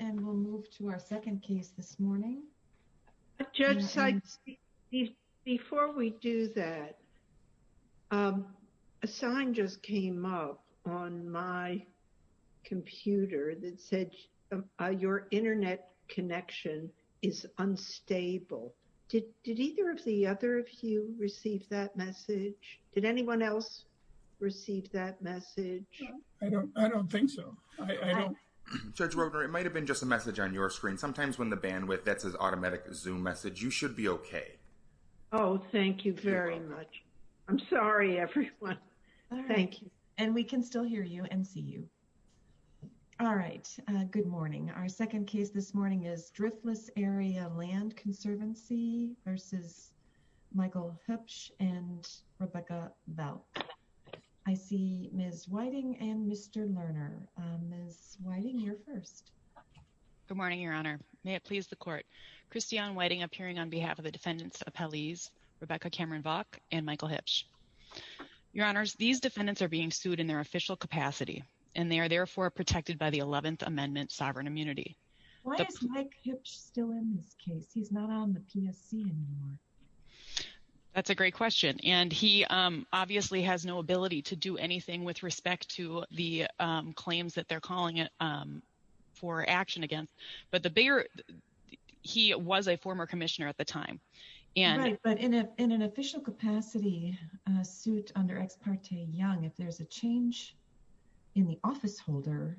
and we'll move to our second case this morning. Judge Sikes, before we do that a sign just came up on my computer that said your internet connection is unstable. Did either of the other of you receive that message? Did anyone else receive that message? I don't think so. I know, Judge Roder, it might have been just a message on your screen. Sometimes when the bandwidth that says automatic zoom message, you should be okay. Oh, thank you very much. I'm sorry, everyone. Thank you. And we can still hear you and see you. All right. Good morning. Our second case this morning is Driftless Area Land Conservancy v. Michael Huebsch and Rebecca Valk. I see Ms. Whiting and Mr. Lerner. Ms. Whiting, you're first. Good morning, Your Honor. May it please the Court. Christiane Whiting appearing on behalf of the defendants' appellees, Rebecca Cameron Valk and Michael Huebsch. Your Honors, these defendants are being sued in their official capacity and they are therefore protected by the 11th Amendment Sovereign Immunity. Why is Mike Huebsch still in this case? He's not on the PSC anymore. That's a great question. And he obviously has no ability to do anything with respect to the claims that they're calling it for action against. But the bigger, he was a former commissioner at the time. Right, but in an official capacity suit under Ex parte Young, if there's a change in the office holder,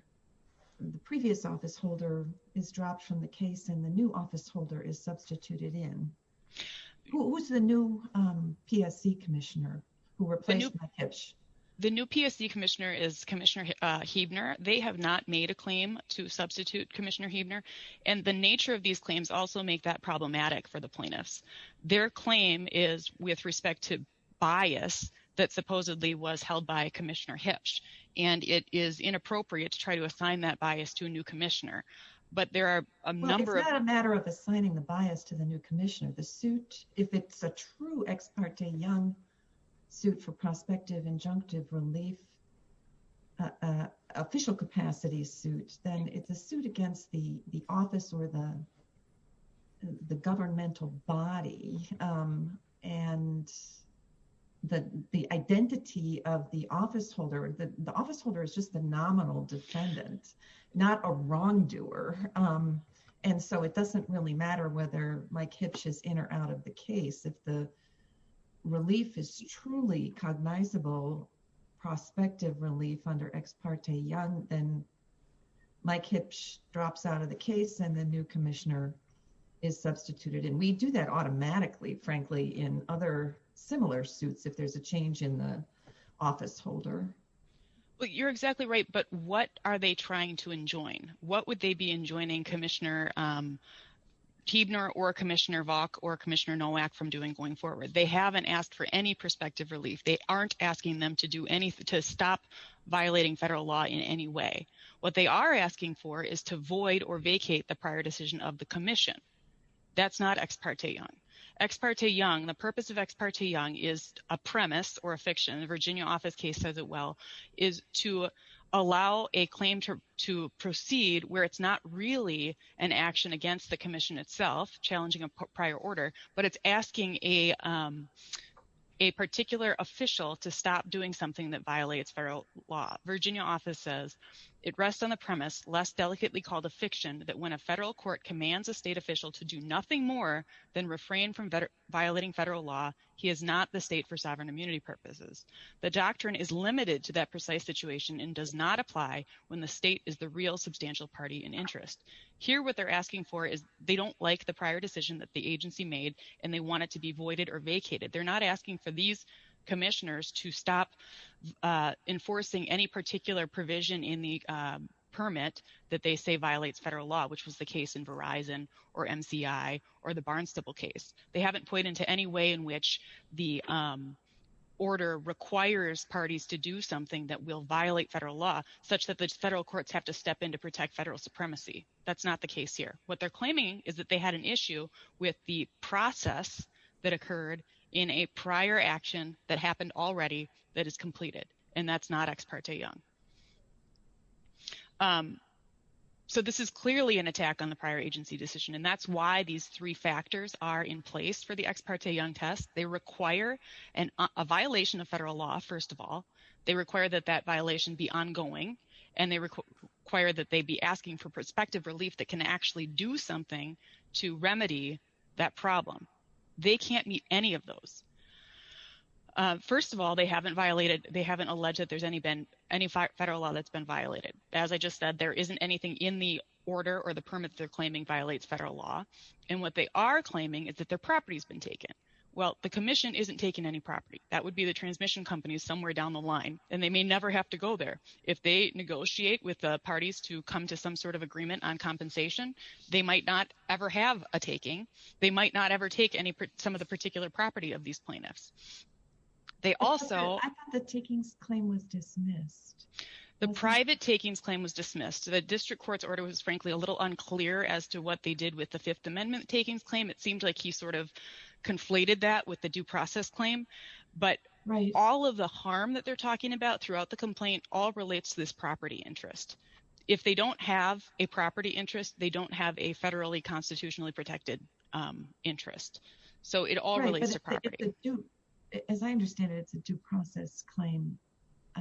the previous office holder is dropped from the case and the new office holder is substituted in. Who's the new PSC commissioner who replaced Mike Huebsch? The new PSC commissioner is Commissioner Huebner. They have not made a claim to substitute Commissioner Huebner. And the nature of these claims also make that problematic for the plaintiffs. Their claim is with respect to bias that supposedly was held by Commissioner Huebsch. And it is inappropriate to try to assign that bias to a new commissioner. But there are a number of... Well, it's not a matter of assigning the bias to the new commissioner. The suit, if it's a true Ex parte Young suit for prospective injunctive relief, official capacity suit, then it's a suit against the office or the governmental body. And the identity of the office holder, the office holder is just the nominal defendant, not a wrongdoer. And so it doesn't really matter whether Mike Huebsch is in or out of the case. If the relief is truly cognizable, prospective relief under Ex parte Young, then Mike Huebsch drops out of the case and the new commissioner is substituted. And we do that automatically, frankly, in other similar suits, if there's a change in the office holder. Well, you're exactly right. But what are they trying to enjoin? What would they be enjoining Commissioner Tibner or Commissioner Vaughn or Commissioner Nowak from doing going forward? They haven't asked for any prospective relief. They aren't asking them to stop violating federal law in any way. What they are asking for is to void or vacate the prior decision of the commission. That's not Ex parte Young. Ex parte Young, the purpose of Ex parte Young is a premise or a proceed where it's not really an action against the commission itself challenging a prior order, but it's asking a particular official to stop doing something that violates federal law. Virginia office says it rests on the premise, less delicately called a fiction, that when a federal court commands a state official to do nothing more than refrain from violating federal law, he is not the state for sovereign immunity purposes. The doctrine is limited to that precise situation and does not apply when the state is the real substantial party in interest. Here what they're asking for is they don't like the prior decision that the agency made and they want it to be voided or vacated. They're not asking for these commissioners to stop enforcing any particular provision in the permit that they say violates federal law, which was the case in Verizon or MCI or the Barnes-Nicoll case. They haven't pointed to any way in which the order requires parties to do something that will violate federal law such that the federal courts have to step in to protect federal supremacy. That's not the case here. What they're claiming is that they had an issue with the process that occurred in a prior action that happened already that is completed and that's not Ex parte Young. So this is clearly an attack on the prior agency decision and that's why these three factors are in place for the Ex parte Young test. They require a violation of federal law, first of all. They require that that violation be ongoing and they require that they be asking for prospective relief that can actually do something to remedy that problem. They can't meet any of those. First of all, they haven't alleged that there's any federal law that's been violated. As I just said, there isn't anything in the order or the permit they're claiming violates federal law and what they are claiming is that their property has been taken. Well, the commission isn't taking any property. That would be the transmission company somewhere down the line and they may never have to go there. If they negotiate with the parties to come to some sort of agreement on compensation, they might not ever have a taking. They might not ever take any some of the particular property of these plaintiffs. I thought the takings claim was dismissed. The private takings claim was dismissed. The district court's order was frankly a little unclear as to what they did with the Fifth Amendment takings claim. It seemed like he sort of conflated that with the due process claim, but all of the harm that they're talking about throughout the complaint all relates to this property interest. If they don't have a property interest, they don't have a federally constitutionally protected interest. So it all relates to property. As I understand it, it's a due process claim,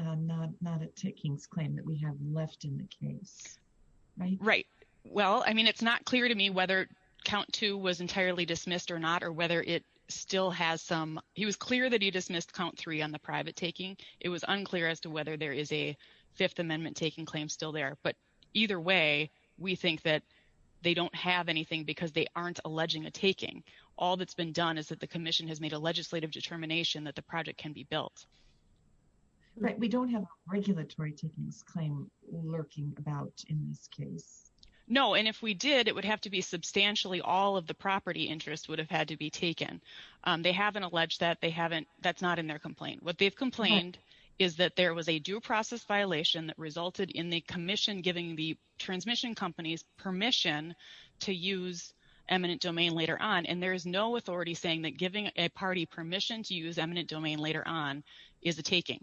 not a takings claim that we have left in the case, right? Right. Well, I mean, it's not clear to me whether count two was entirely dismissed or not or whether it still has some. He was clear that he dismissed count three on the private taking. It was unclear as to whether there is a Fifth Amendment taking claim still there. But either way, we think that they don't have anything because they aren't alleging a taking. All that's been done is that the commission has made a legislative determination that the project can be built. Right. We don't have a regulatory takings claim lurking about in this case. No. And if we did, it would have to be substantially all of the property interest would have had to be taken. They haven't alleged that. They haven't. That's not in their complaint. What they've complained is that there was a due process violation that resulted in the commission giving the transmission companies permission to use eminent domain later on. And there is no authority saying that giving a party permission to use eminent domain later on is a taking.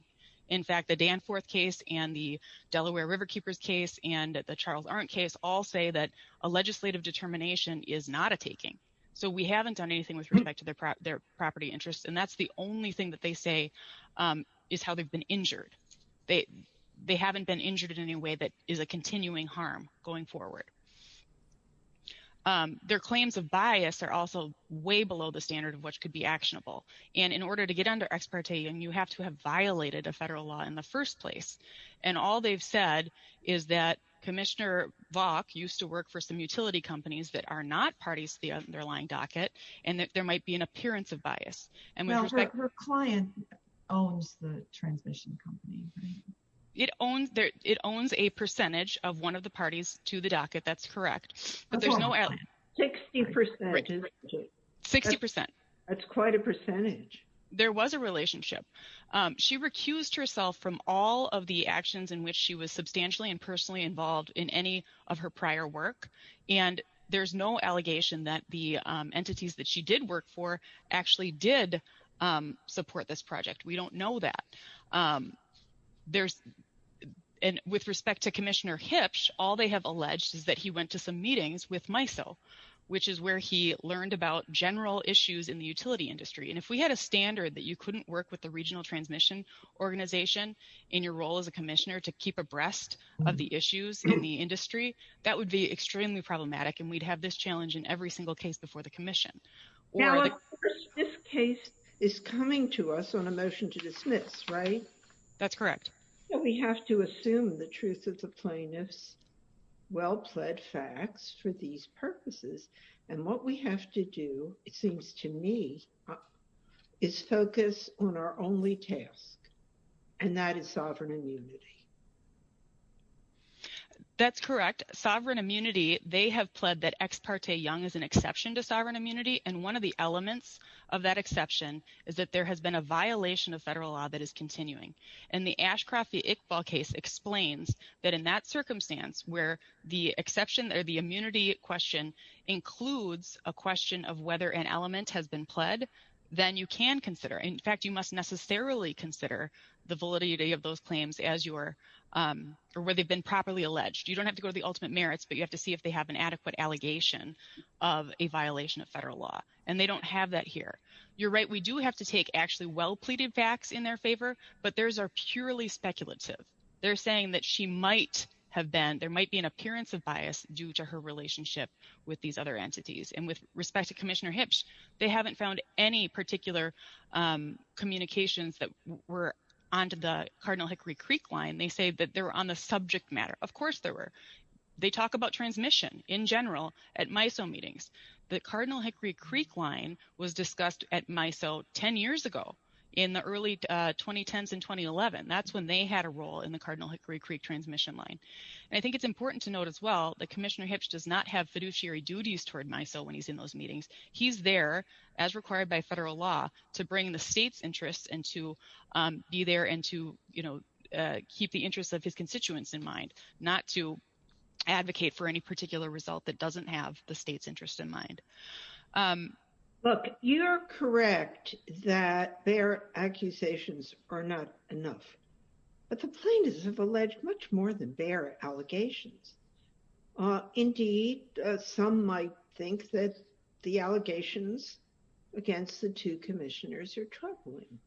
In fact, the Danforth case and the Delaware River Keepers case and the Charles Aren't case all say that a legislative determination is not a taking. So we haven't done anything with respect to their property interests. And that's the only thing that they say is how they've been injured. They haven't been injured in any way. That is a continuing harm going forward. Their claims of bias are also way below the standard of what could be actionable. And in order to get under ex parte, you have to have violated a federal law in the first place. And all they've said is that Commissioner Vaughn used to work for some utility companies that are not parties to the underlying docket, and that there might be an appearance of bias. Well, her client owns the transmission company. It owns a percentage of one of the parties to the docket. That's correct. But there's no allegation. Sixty percent. Sixty percent. That's quite a percentage. There was a relationship. She recused herself from all of the actions in which she was substantially and personally involved in any of her prior work. And there's no allegation that the entities that she did work for actually did support this project. We don't know that. There's and with respect to Commissioner Hipsch, all they have alleged is that he went to some meetings with MISO, which is where he learned about general issues in the utility industry. And if we had a standard that you couldn't work with the regional transmission organization in your role as a commissioner to keep abreast of the issues in the industry, that would be extremely problematic. And we'd have this challenge in every single case before the commission. This case is coming to us on a motion to dismiss, right? That's correct. We have to assume the truth of the plaintiff's well-pled facts for these purposes. And what we have to do, it seems to me, is focus on our only task, and that is sovereign immunity. That's correct. Sovereign immunity, they have pled that Ex parte Young is an exception to sovereign immunity. And one of the elements of that exception is that there has been a Ashcroft v. Iqbal case explains that in that circumstance where the exception or the immunity question includes a question of whether an element has been pled, then you can consider. In fact, you must necessarily consider the validity of those claims as your, where they've been properly alleged. You don't have to go to the ultimate merits, but you have to see if they have an adequate allegation of a violation of federal law. And they don't have that here. You're right. We do have to take actually well-pleaded facts in their favor, but theirs are purely speculative. They're saying that she might have been, there might be an appearance of bias due to her relationship with these other entities. And with respect to Commissioner Hitch, they haven't found any particular communications that were onto the Cardinal Hickory Creek line. They say that they were on the subject matter. Of course there were. They talk about transmission in general at MISO meetings. The Cardinal Hickory Creek line was that's when they had a role in the Cardinal Hickory Creek transmission line. And I think it's important to note as well that Commissioner Hitch does not have fiduciary duties toward MISO when he's in those meetings. He's there as required by federal law to bring the state's interests and to be there and to keep the interests of his constituents in mind, not to advocate for any particular result that doesn't have the state's interest in mind. Look, you're correct that their accusations are not enough, but the plaintiffs have alleged much more than bare allegations. Indeed, some might think that the allegations against the two commissioners are troubling.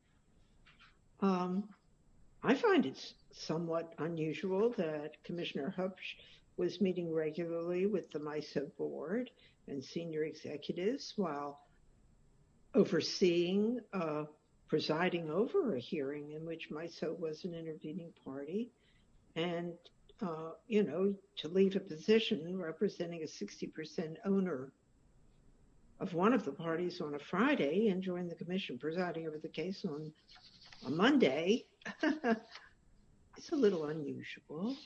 I find it somewhat unusual that Commissioner Hutch was meeting regularly with the MISO board and senior executives while overseeing, presiding over a hearing in which MISO was an intervening party. And, you know, to leave a position representing a 60% owner of one of the parties on a Friday and join the commission presiding over the case on a Monday, it's a little unusual.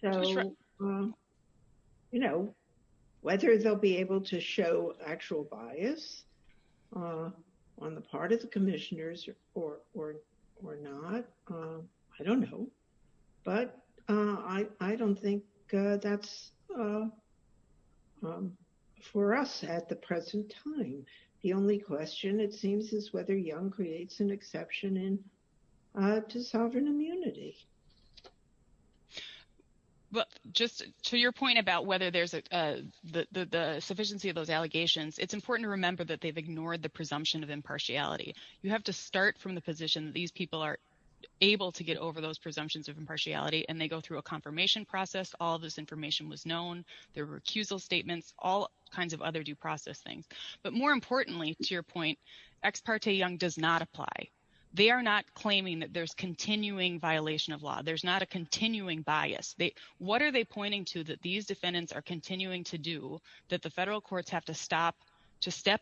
So, you know, whether they'll be able to show actual bias on the part of the commissioners or not, I don't know. But I don't think that's for us at the present time. The only question, it seems, is whether Young creates an exception to sovereign immunity. But just to your point about whether there's the sufficiency of those allegations, it's important to remember that they've ignored the presumption of impartiality. You have to start from the position that these people are able to get over those presumptions of impartiality and they go through a confirmation process. All this information was known. There were accusal statements, all kinds of other due process things. But more importantly, to your point, Ex parte Young does not apply. They are not claiming that there's continuing violation of law. There's not a continuing bias. What are they pointing to that these defendants are continuing to do that the federal courts have to step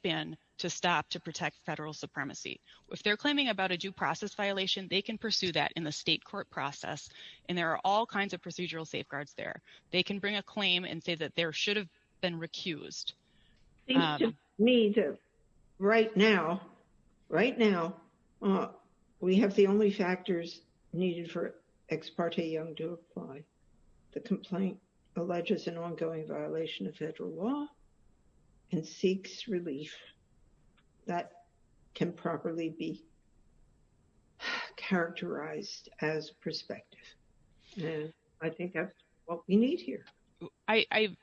in to stop to protect federal supremacy? If they're claiming about a due process violation, they can pursue that in the state court process. And there are all kinds of procedural safeguards there. They can bring a claim and say that there should have been recused. Right now, we have the only factors needed for Ex parte Young to apply. The complaint alleges an ongoing violation of federal law and seeks relief that can properly be characterized as prospective. And I think that's what we need here. I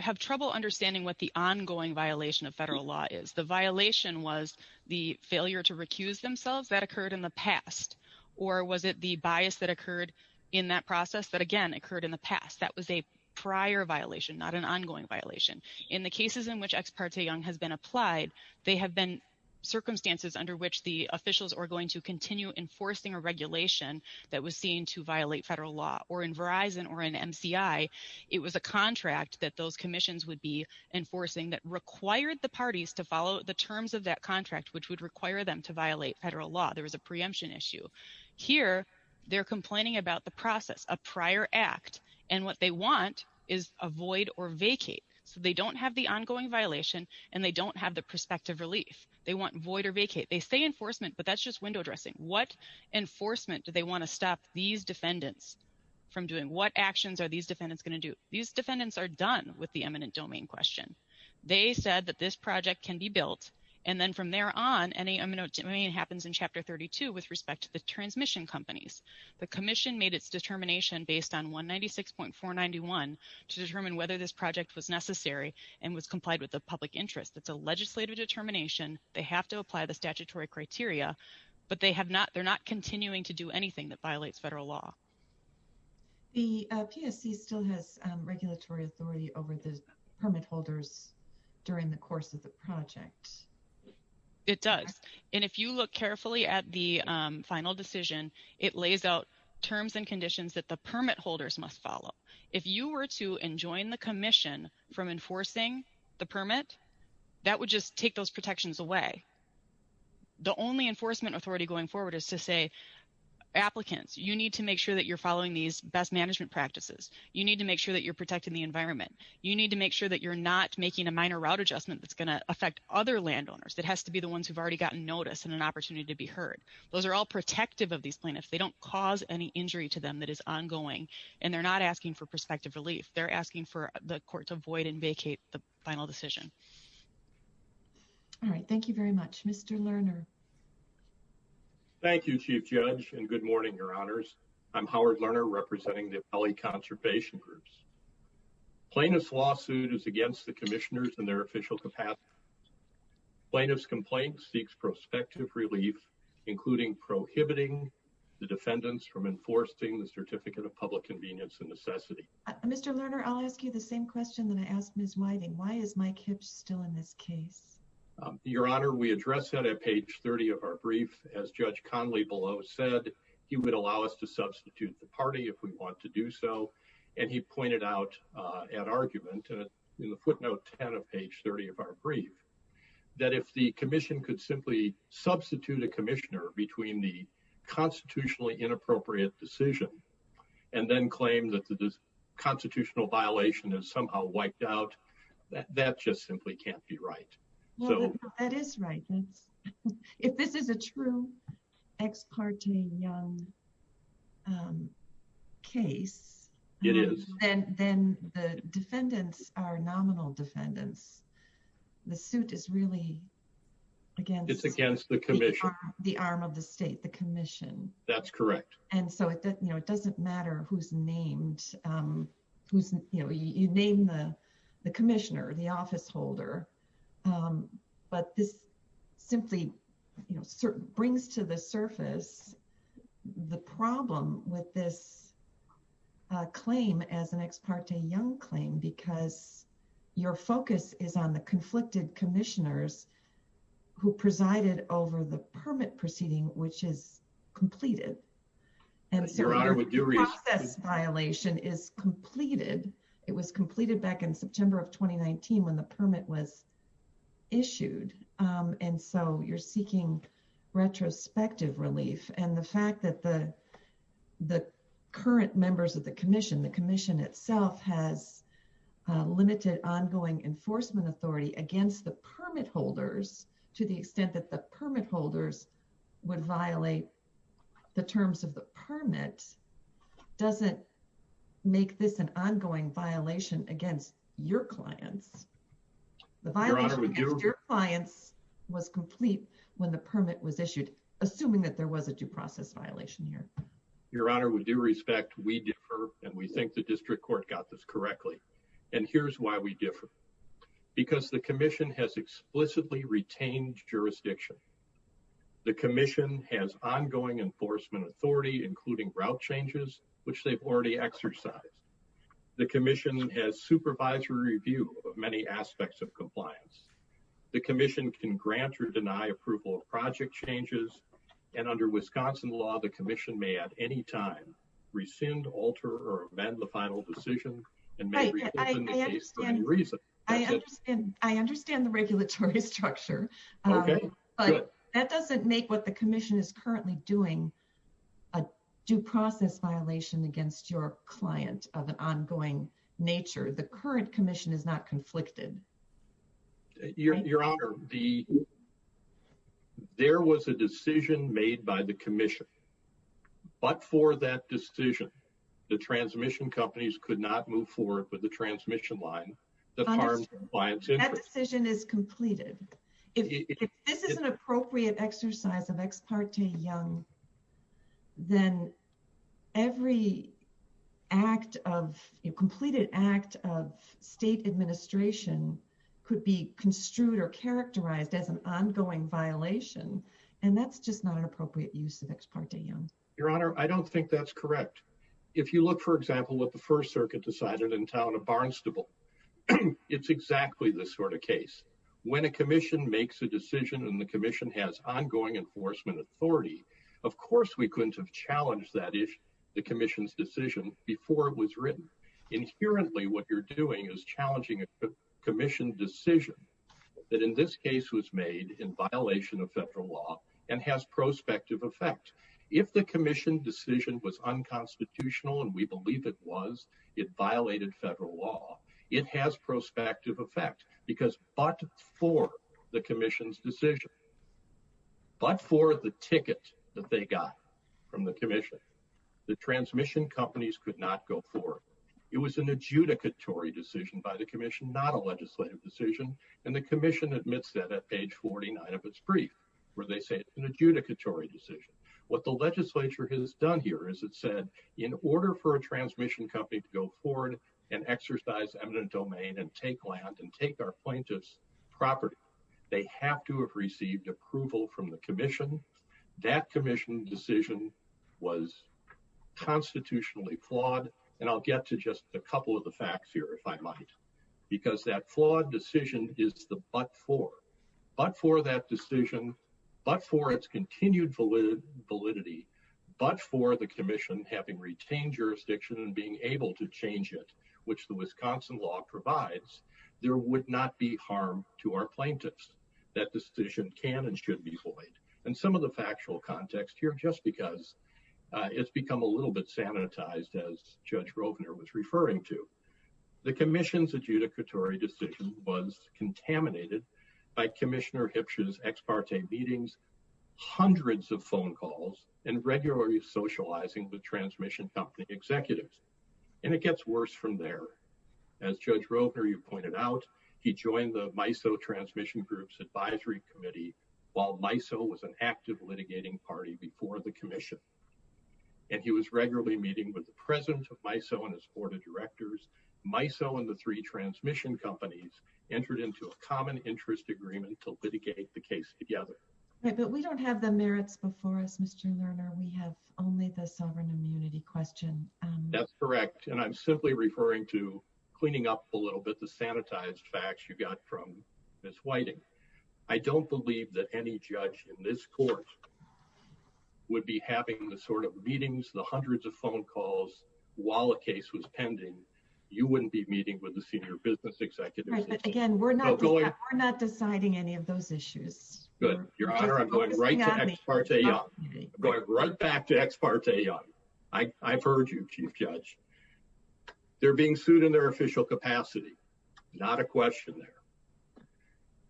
have trouble understanding what the ongoing violation of federal law is. The violation was the failure to recuse themselves that occurred in the past. Or was it the bias that occurred in that process that again occurred in the past? That was a prior violation, not an ongoing violation. In the cases in which Ex parte Young has been applied, they have been circumstances under which the officials are going to continue enforcing a regulation that was seen to violate federal law. Or in Verizon or in MCI, it was a contract that those commissions would be enforcing that required the parties to follow the terms of that contract, which would require them to violate federal law. There was a preemption issue. Here, they're complaining about the process, a prior act. And what they want is avoid or vacate. So they don't have the ongoing violation, and they don't have the prospective relief. They want void or vacate. They say enforcement, but that's just window dressing. What enforcement do they want to stop these defendants from doing? What actions are these defendants going to do? These defendants are done with the eminent domain question. They said that this project can be built. And then from there on, any eminent domain happens in Chapter 32 with respect to the transmission companies. The commission made its determination based on 196.491 to determine whether this project was necessary and was complied with the public interest. It's a legislative determination. They have to apply the statutory criteria, but they're not continuing to do anything that violates federal law. The PSC still has regulatory authority over the permit holders during the course of the project. It does. And if you look carefully at the final decision, it lays out terms and conditions that permit holders must follow. If you were to enjoin the commission from enforcing the permit, that would just take those protections away. The only enforcement authority going forward is to say, applicants, you need to make sure that you're following these best management practices. You need to make sure that you're protecting the environment. You need to make sure that you're not making a minor route adjustment that's going to affect other landowners. That has to be the ones who've already gotten notice and an opportunity to be heard. Those are all protective of these that is ongoing. And they're not asking for prospective relief. They're asking for the court to avoid and vacate the final decision. All right. Thank you very much. Mr. Lerner. Thank you, Chief Judge, and good morning, Your Honors. I'm Howard Lerner, representing the Valley Conservation Groups. Plaintiff's lawsuit is against the commissioners and their official capacity. Plaintiff's complaint seeks prospective relief, including prohibiting the defendants from enforcing the Certificate of Public Convenience and Necessity. Mr. Lerner, I'll ask you the same question that I asked Ms. Whiting. Why is Mike Hibbs still in this case? Your Honor, we address that at page 30 of our brief. As Judge Conley below said, he would allow us to substitute the party if we want to do so. And he pointed out at argument, in the footnote 10 of page 30 of our brief, that if the commission could simply substitute a commissioner between the constitutionally inappropriate decision and then claim that the constitutional violation is somehow wiped out, that just simply can't be right. Well, that is right. If this is a true ex parte young case, then the defendants are nominal defendants. The suit is really against the arm of the state, the commission. That's correct. And so it doesn't matter who's named. You name the commissioner, the office holder. But this simply brings to the surface the problem with this claim as an ex parte young claim because your focus is on the who presided over the permit proceeding, which is completed. And so your process violation is completed. It was completed back in September of 2019 when the permit was issued. And so you're seeking retrospective relief. And the fact that the current members of the commission, the to the extent that the permit holders would violate the terms of the permit, doesn't make this an ongoing violation against your clients. Your clients was complete when the permit was issued, assuming that there was a due process violation here. Your Honor, with due respect, we differ and we think the district court got this correctly. And here's why we differ. Because the commission has explicitly retained jurisdiction. The commission has ongoing enforcement authority, including route changes, which they've already exercised. The commission has supervisory review of many aspects of compliance. The commission can grant or deny approval of project changes. And under Wisconsin law, the commission may at any time rescind, alter, or amend the final decision. I understand the regulatory structure, but that doesn't make what the commission is currently doing a due process violation against your client of an ongoing nature. The current commission is conflicted. Your Honor, there was a decision made by the commission, but for that decision, the transmission companies could not move forward with the transmission line. That decision is completed. If this is an appropriate exercise of Ex parte Young, then every act of completed act of state administration could be construed or characterized as an ongoing violation. And that's just not an appropriate use of Ex parte Young. Your Honor, I don't think that's correct. If you look, for example, what the first circuit decided in town of Barnstable, it's exactly this sort of case. When a commission makes a decision and the commission has ongoing enforcement authority, of course, we couldn't have challenged that issue, the commission's decision before it was written. Inherently, what you're doing is challenging a commission decision that in this case was made in violation of federal law and has prospective effect. If the commission decision was unconstitutional and we believe it was, it violated federal law. It has prospective effect because but for the commission's decision, but for the ticket that they got from the commission, the transmission companies could not go forward. It was an adjudicatory decision by the commission, not a legislative decision. And the commission admits that at page 49 of its brief, where they say it's an adjudicatory decision. What the legislature has done here is it said, in order for a transmission company to go forward and exercise eminent domain and take land and take our plaintiff's property, they have to have received approval from the commission. That commission decision was constitutionally flawed. And I'll get to just a couple of the facts here, if I might, because that flawed decision is the but for, but for that decision, but for its continued validity, but for the commission having retained jurisdiction and being able to change it, which the Wisconsin law provides, there would not be harm to our plaintiffs. That decision can and should be void. And some of the factual context here, just because it's become a little bit sanitized as Judge Rovner was referring to, the commission's meetings, hundreds of phone calls and regularly socializing with transmission company executives. And it gets worse from there. As Judge Rovner, you pointed out, he joined the MISO transmission group's advisory committee, while MISO was an active litigating party before the commission. And he was regularly meeting with the president of MISO and his board of directors, MISO and the three transmission companies entered into a common interest agreement to litigate the But we don't have the merits before us, Mr. Lerner. We have only the sovereign immunity question. That's correct. And I'm simply referring to cleaning up a little bit the sanitized facts you got from Ms. Whiting. I don't believe that any judge in this court would be having the sort of meetings, the hundreds of phone calls while a case was pending. You wouldn't be meeting with the senior business executives. Again, we're not going, we're not deciding any of those issues. Good. Your honor, I'm going right back to Ex parte Young. I've heard you, Chief Judge. They're being sued in their official capacity. Not a question there.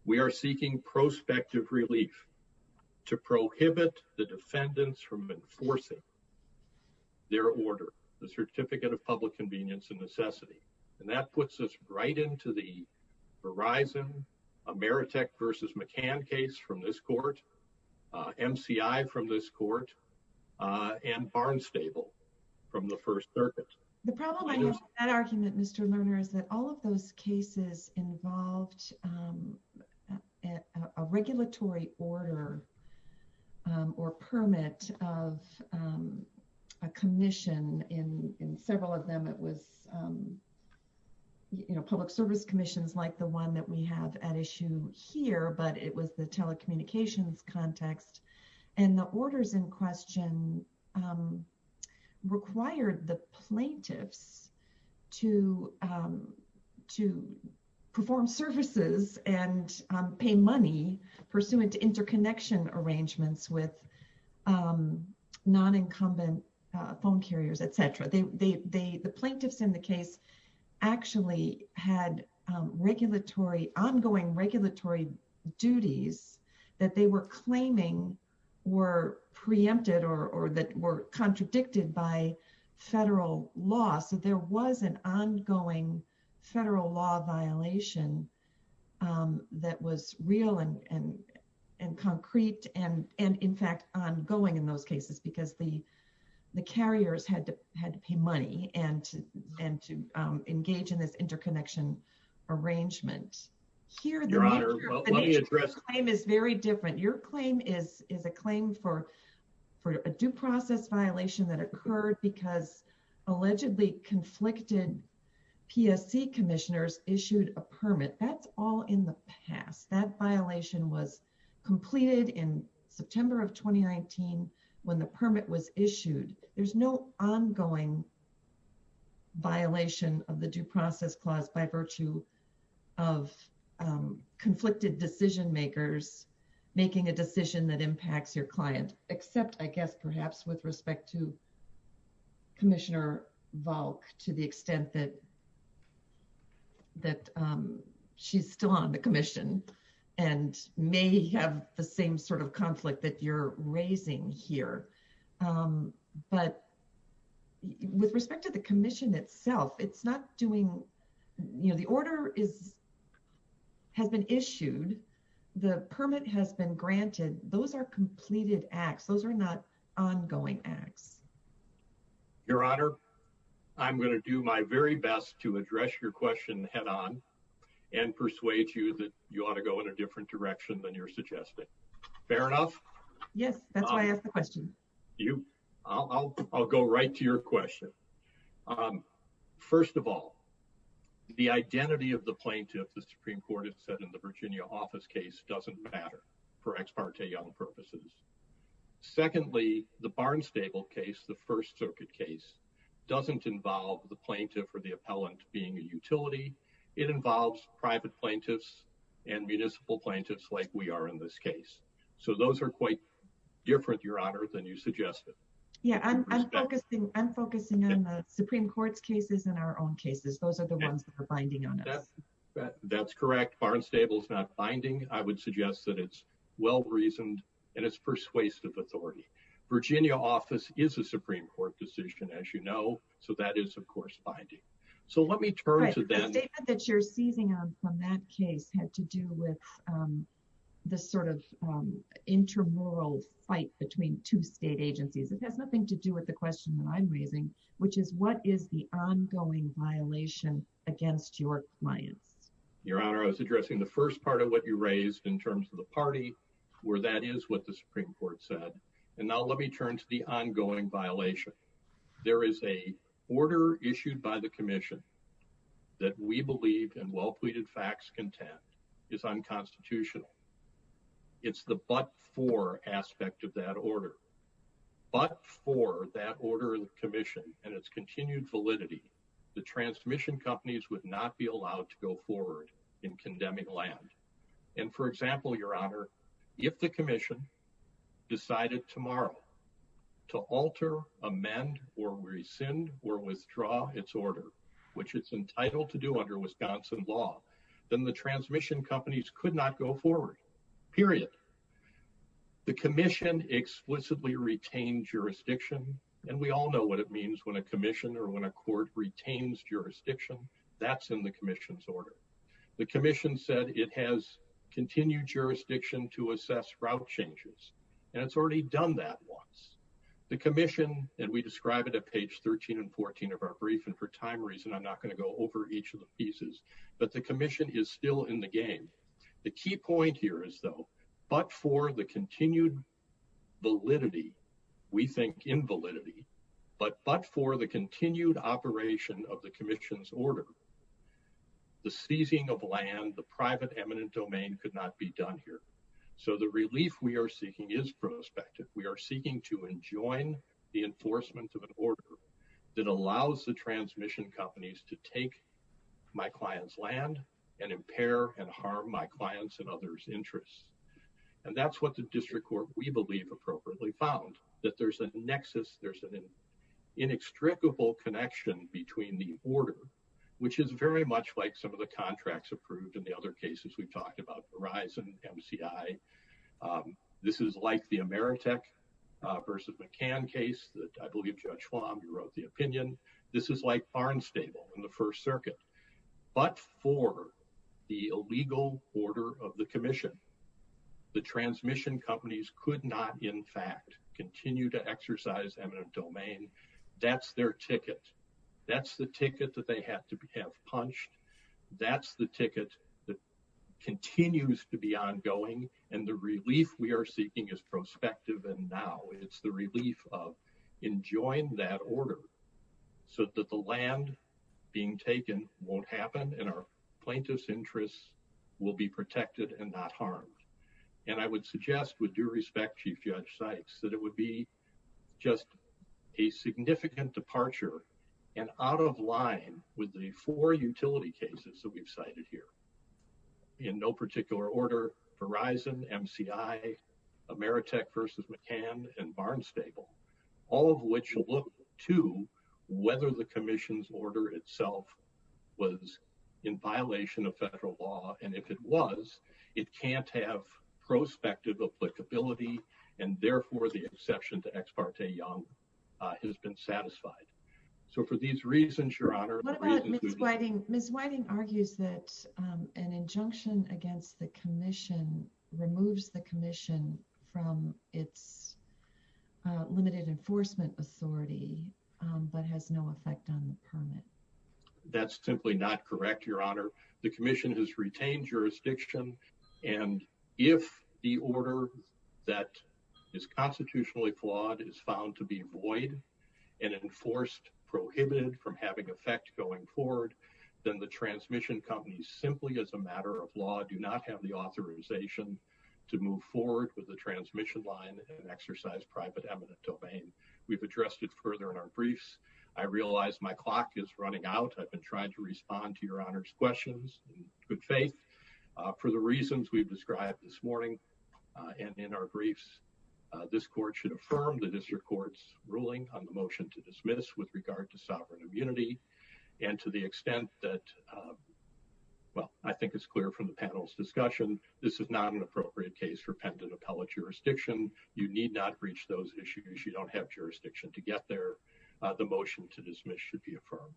We are seeking prospective relief to prohibit the defendants from enforcing their order, the Baratek v. McCann case from this court, MCI from this court, and Barnstable from the First Circuit. The problem with that argument, Mr. Lerner, is that all of those cases involved a regulatory order or permit of a commission. In several of them, it was, you know, public service commissions like the one that we have at issue here, but it was the telecommunications context. And the orders in question required the plaintiffs to perform services and pay money pursuant to interconnection arrangements with non-incumbent phone carriers, etc. The plaintiffs in the case actually had regulatory, ongoing regulatory duties that they were claiming were preempted or that were contradicted by federal law. So there was an ongoing federal law violation that was real and concrete and in fact ongoing in those cases because the engage in this interconnection arrangement. Your Honor, let me address that. Your claim is a claim for a due process violation that occurred because allegedly conflicted PSC commissioners issued a permit. That's all in the past. That violation was completed in the due process clause by virtue of conflicted decision makers making a decision that impacts your client. Except, I guess, perhaps with respect to Commissioner Volk to the extent that she's still on the commission and may have the same sort of conflict that you're raising here. But with respect to the commission itself, it's not doing, you know, the order is has been issued. The permit has been granted. Those are completed acts. Those are not ongoing acts. Your Honor, I'm going to do my very best to address your question head-on and persuade you that you ought to go in a different direction than you're suggesting. Fair enough? Yes, that's why I asked the question. I'll go right to your question. First of all, the identity of the plaintiff, the Supreme Court has said in the Virginia office case, doesn't matter for Ex parte Young purposes. Secondly, the Barnstable case, the First Circuit case, doesn't involve the plaintiff or the appellant being a utility. It involves private plaintiffs and municipal plaintiffs like we are in this case. So those are quite different, Your Honor, than you suggested. Yeah, I'm focusing on the Supreme Court's cases and our own cases. Those are the ones that are binding on us. That's correct. Barnstable's not binding. I would suggest that it's well-reasoned and it's persuasive authority. Virginia office is a Supreme Court decision, as you know. So that is, of course, binding. So let me turn to that. The statement that you're seizing on from that case had to do with the sort of intramural fight between two state agencies. It has nothing to do with the question that I'm raising, which is what is the ongoing violation against your clients? Your Honor, I was addressing the first part of what you raised in terms of the party, where that is what the Supreme Court said. And now let me turn to the ongoing violation. There is a order issued by the commission that we believe in well-pleaded facts content is unconstitutional. It's the but for aspect of that order. But for that order of the commission and its continued validity, the transmission companies would not be allowed to go forward in condemning land. And for example, Your Honor, if the commission decided tomorrow to alter, amend or rescind or withdraw its order, which it's entitled to do under Wisconsin law, then the transmission companies could not go forward. Period. The commission explicitly retained jurisdiction. And we all know what it means when a commission or when a court retains jurisdiction, that's in the commission's order. The commission said it has continued jurisdiction to assess route changes. And it's already done that once. The commission, and we describe it at page 13 and 14 of our brief, and for time reasons, I'm not going to go over each of the pieces, but the commission is still in the game. The key point here is though, but for the operation of the commission's order, the seizing of land, the private eminent domain could not be done here. So the relief we are seeking is prospective. We are seeking to enjoin the enforcement of an order that allows the transmission companies to take my client's land and impair and harm my clients and others' interests. And that's what the district court we believe appropriately found, that there's a nexus, there's an inextricable connection between the order, which is very much like some of the contracts approved in the other cases we've talked about, Verizon, MCI. This is like the Ameritech versus McCann case that I believe Judge Schwab wrote the opinion. This is like Farnstable in the First Circuit. But for the illegal order of the continue to exercise eminent domain, that's their ticket. That's the ticket that they have to have punched. That's the ticket that continues to be ongoing. And the relief we are seeking is prospective. And now it's the relief of enjoying that order so that the land being taken won't happen and our plaintiff's interests will be protected and not harmed. And I would suggest with due respect, Chief Judge Sykes, that it would be just a significant departure and out of line with the four utility cases that we've cited here. In no particular order, Verizon, MCI, Ameritech versus McCann, and Farnstable, all of which look to whether the commission's order itself was in violation of federal law. And if it was, it can't have prospective applicability. And therefore, the exception to Ex parte Young has been satisfied. So for these reasons, Your Honor. What about Ms. Whiting? Ms. Whiting argues that an injunction against the commission removes the commission from its limited enforcement authority but has no effect on the permit. That's simply not correct, Your Honor. The commission has retained jurisdiction. And if the order that is constitutionally flawed is found to be void and enforced, prohibited from having effect going forward, then the transmission companies simply as a matter of law do not have the authorization to move forward with the transmission line and exercise private eminent domain. We've addressed it further in our briefs. I realize my clock is running out. I've been trying to respond to Your Honor's questions in good faith. For the reasons we've described this morning and in our briefs, this court should affirm the district court's ruling on the motion to dismiss with regard to sovereign immunity and to the extent that, well, I think it's clear from the panel's discussion, this is not an appropriate case for pendant appellate jurisdiction. You need reach those issues. You don't have jurisdiction to get there. The motion to dismiss should be affirmed.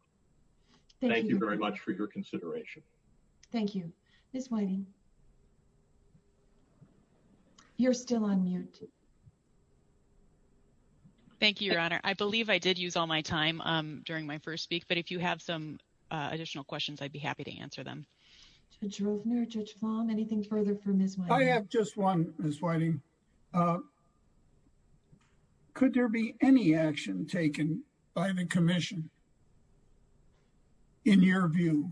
Thank you very much for your consideration. Thank you. Ms. Whiting? You're still on mute. Thank you, Your Honor. I believe I did use all my time during my first week. But if you have some additional questions, I'd be happy to answer them. Anything further for Ms. Whiting? I have just one, Ms. Whiting. Could there be any action taken by the commission, in your view,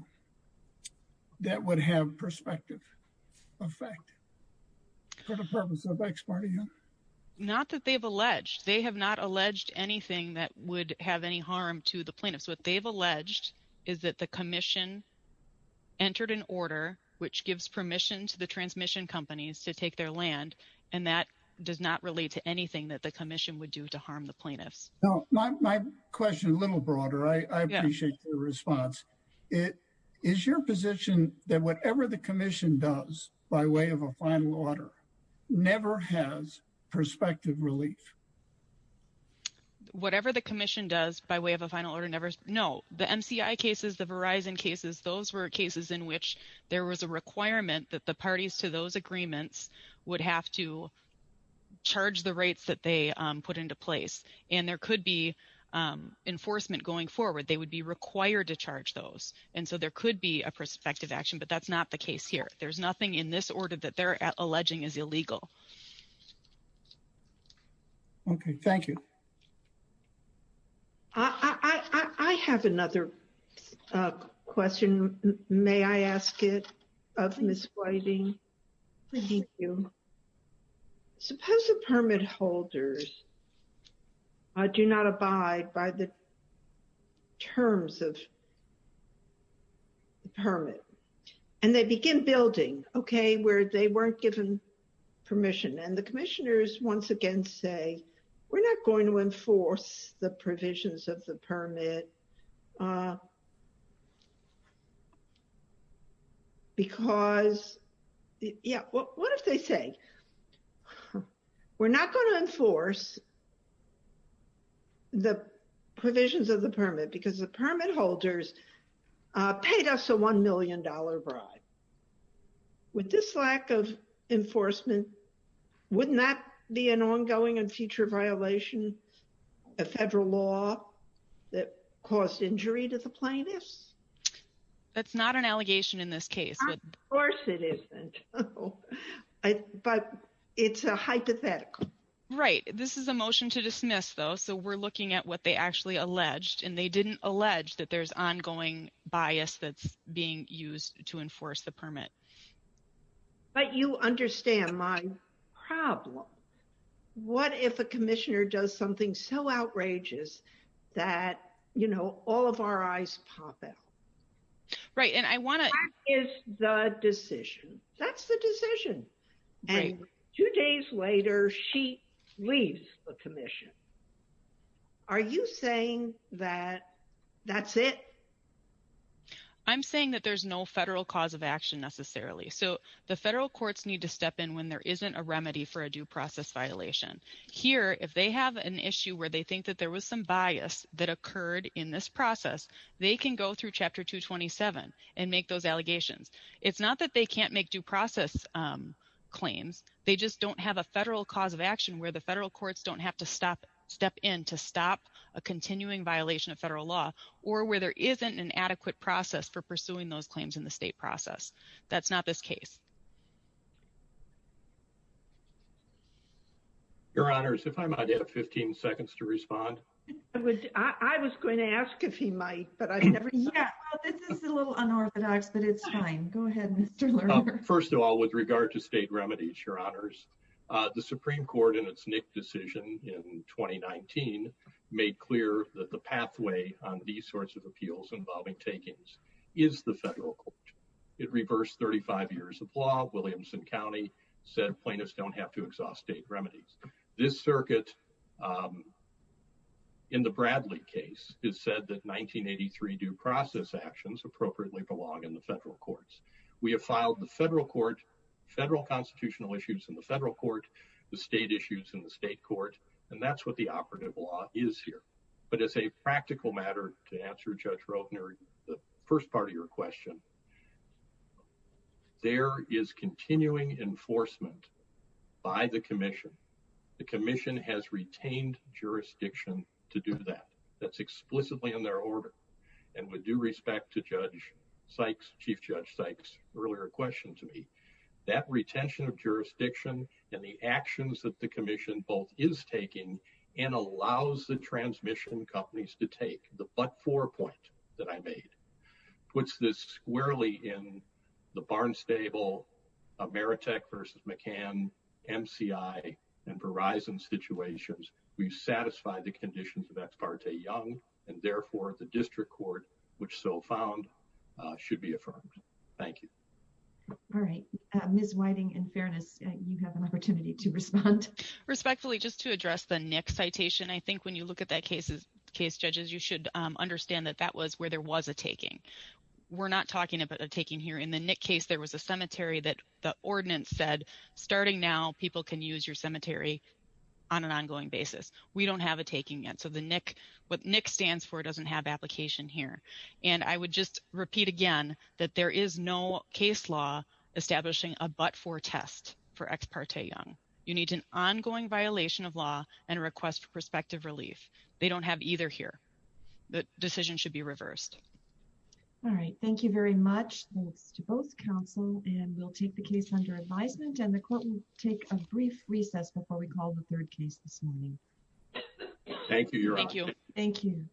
that would have prospective effect for the purpose of exparting him? Not that they've alleged. They have not alleged anything that would have any harm to the plaintiff. So what they've alleged is that the commission entered an order which gives permission to the would do to harm the plaintiffs. My question is a little broader. I appreciate your response. Is your position that whatever the commission does, by way of a final order, never has prospective relief? Whatever the commission does by way of a final order, no. The MCI cases, the Verizon cases, those were cases in which there was a requirement that the parties to put into place. And there could be enforcement going forward. They would be required to charge those. And so there could be a prospective action. But that's not the case here. There's nothing in this order that they're alleging is illegal. Okay. Thank you. I have another question. May I ask it of Ms. Whiting? Thank you. Suppose the permit holders do not abide by the terms of the permit, and they begin building, okay, where they weren't given permission. And the commissioners once again say, we're not going to enforce the provisions of the permit. Because the permit holders paid us a $1 million bribe. With this lack of enforcement, wouldn't that be an ongoing and future violation of federal law that caused injury to the plaintiffs? That's not an allegation in this case. Of course it isn't. But it's a hypothetical. Right. This is a motion to dismiss, though. So we're looking at what they actually alleged. And they didn't allege that there's ongoing bias that's being used to enforce the permit. But you understand my problem. What if a commissioner does something so outrageous that, you know, all of our eyes pop out? Right. And I want to... That is the decision. That's the decision. And two days later, she leaves the commission. Are you saying that that's it? I'm saying that there's no federal cause of action necessarily. So the federal courts need to step in when there isn't a remedy for a due process violation. Here, if they have an issue where they think that there was some bias that occurred in this process, they can go through Chapter 227 and make those allegations. It's not that they can't make due process claims. They just don't have a federal cause of action where the federal courts don't have to step in to stop a continuing violation of federal law or where there isn't an adequate process for pursuing those claims in the state process. That's not this case. Your Honors, if I might have 15 seconds to respond. I was going to ask if he might, but I've never said that. Yeah, this is a little unorthodox, but it's fine. Go ahead, Mr. Lerner. First of all, with regard to state remedies, Your Honors, the Supreme Court, in its Nick decision in 2019, made clear that the pathway on these sorts of appeals involving takings is the federal court. It reversed 35 years of law. Williamson County said plaintiffs don't have to exhaust state remedies. This circuit in the Bradley case has said that 1983 due process actions appropriately belong in the federal courts. We have filed the federal court, federal constitutional issues in the federal court, the state issues in the state court, and that's what the operative law is here. But as a practical matter, to answer Judge Roebner, the first part of your question, there is continuing enforcement by the commission. The commission has retained jurisdiction to do that. That's explicitly in their order. And with due respect to Judge Sykes, Chief Judge Sykes' earlier question to me, that retention of jurisdiction and the actions that the commission both is taking and allows the transmission companies to take, the but-for point that I made, puts this squarely in the Barnstable, Ameritech versus McCann, MCI, and Verizon situations. We've satisfied the conditions of Ex parte Young, and therefore the district court, which so found, should be affirmed. Thank you. All right. Ms. Whiting, in fairness, you have an opportunity to respond. Respectfully, just to address the Nick citation, I think when you look at that case, case judges, you should understand that that was where there was a taking. We're not talking about a taking here. In the Nick case, there was a cemetery that the ordinance said, starting now, people can use your cemetery on an ongoing basis. We don't have a taking yet. So what Nick stands for doesn't have application here. And I would just repeat again that there is no case law establishing a but-for test for Ex parte Young. You need an ongoing violation of law and a request for prospective relief. They don't have either here. The decision should be reversed. All right. Thank you very much. Thanks to both counsel. And we'll take the case under advisement and the court will take a brief recess before we call the third case this morning. Thank you, Your Honor. Thank you.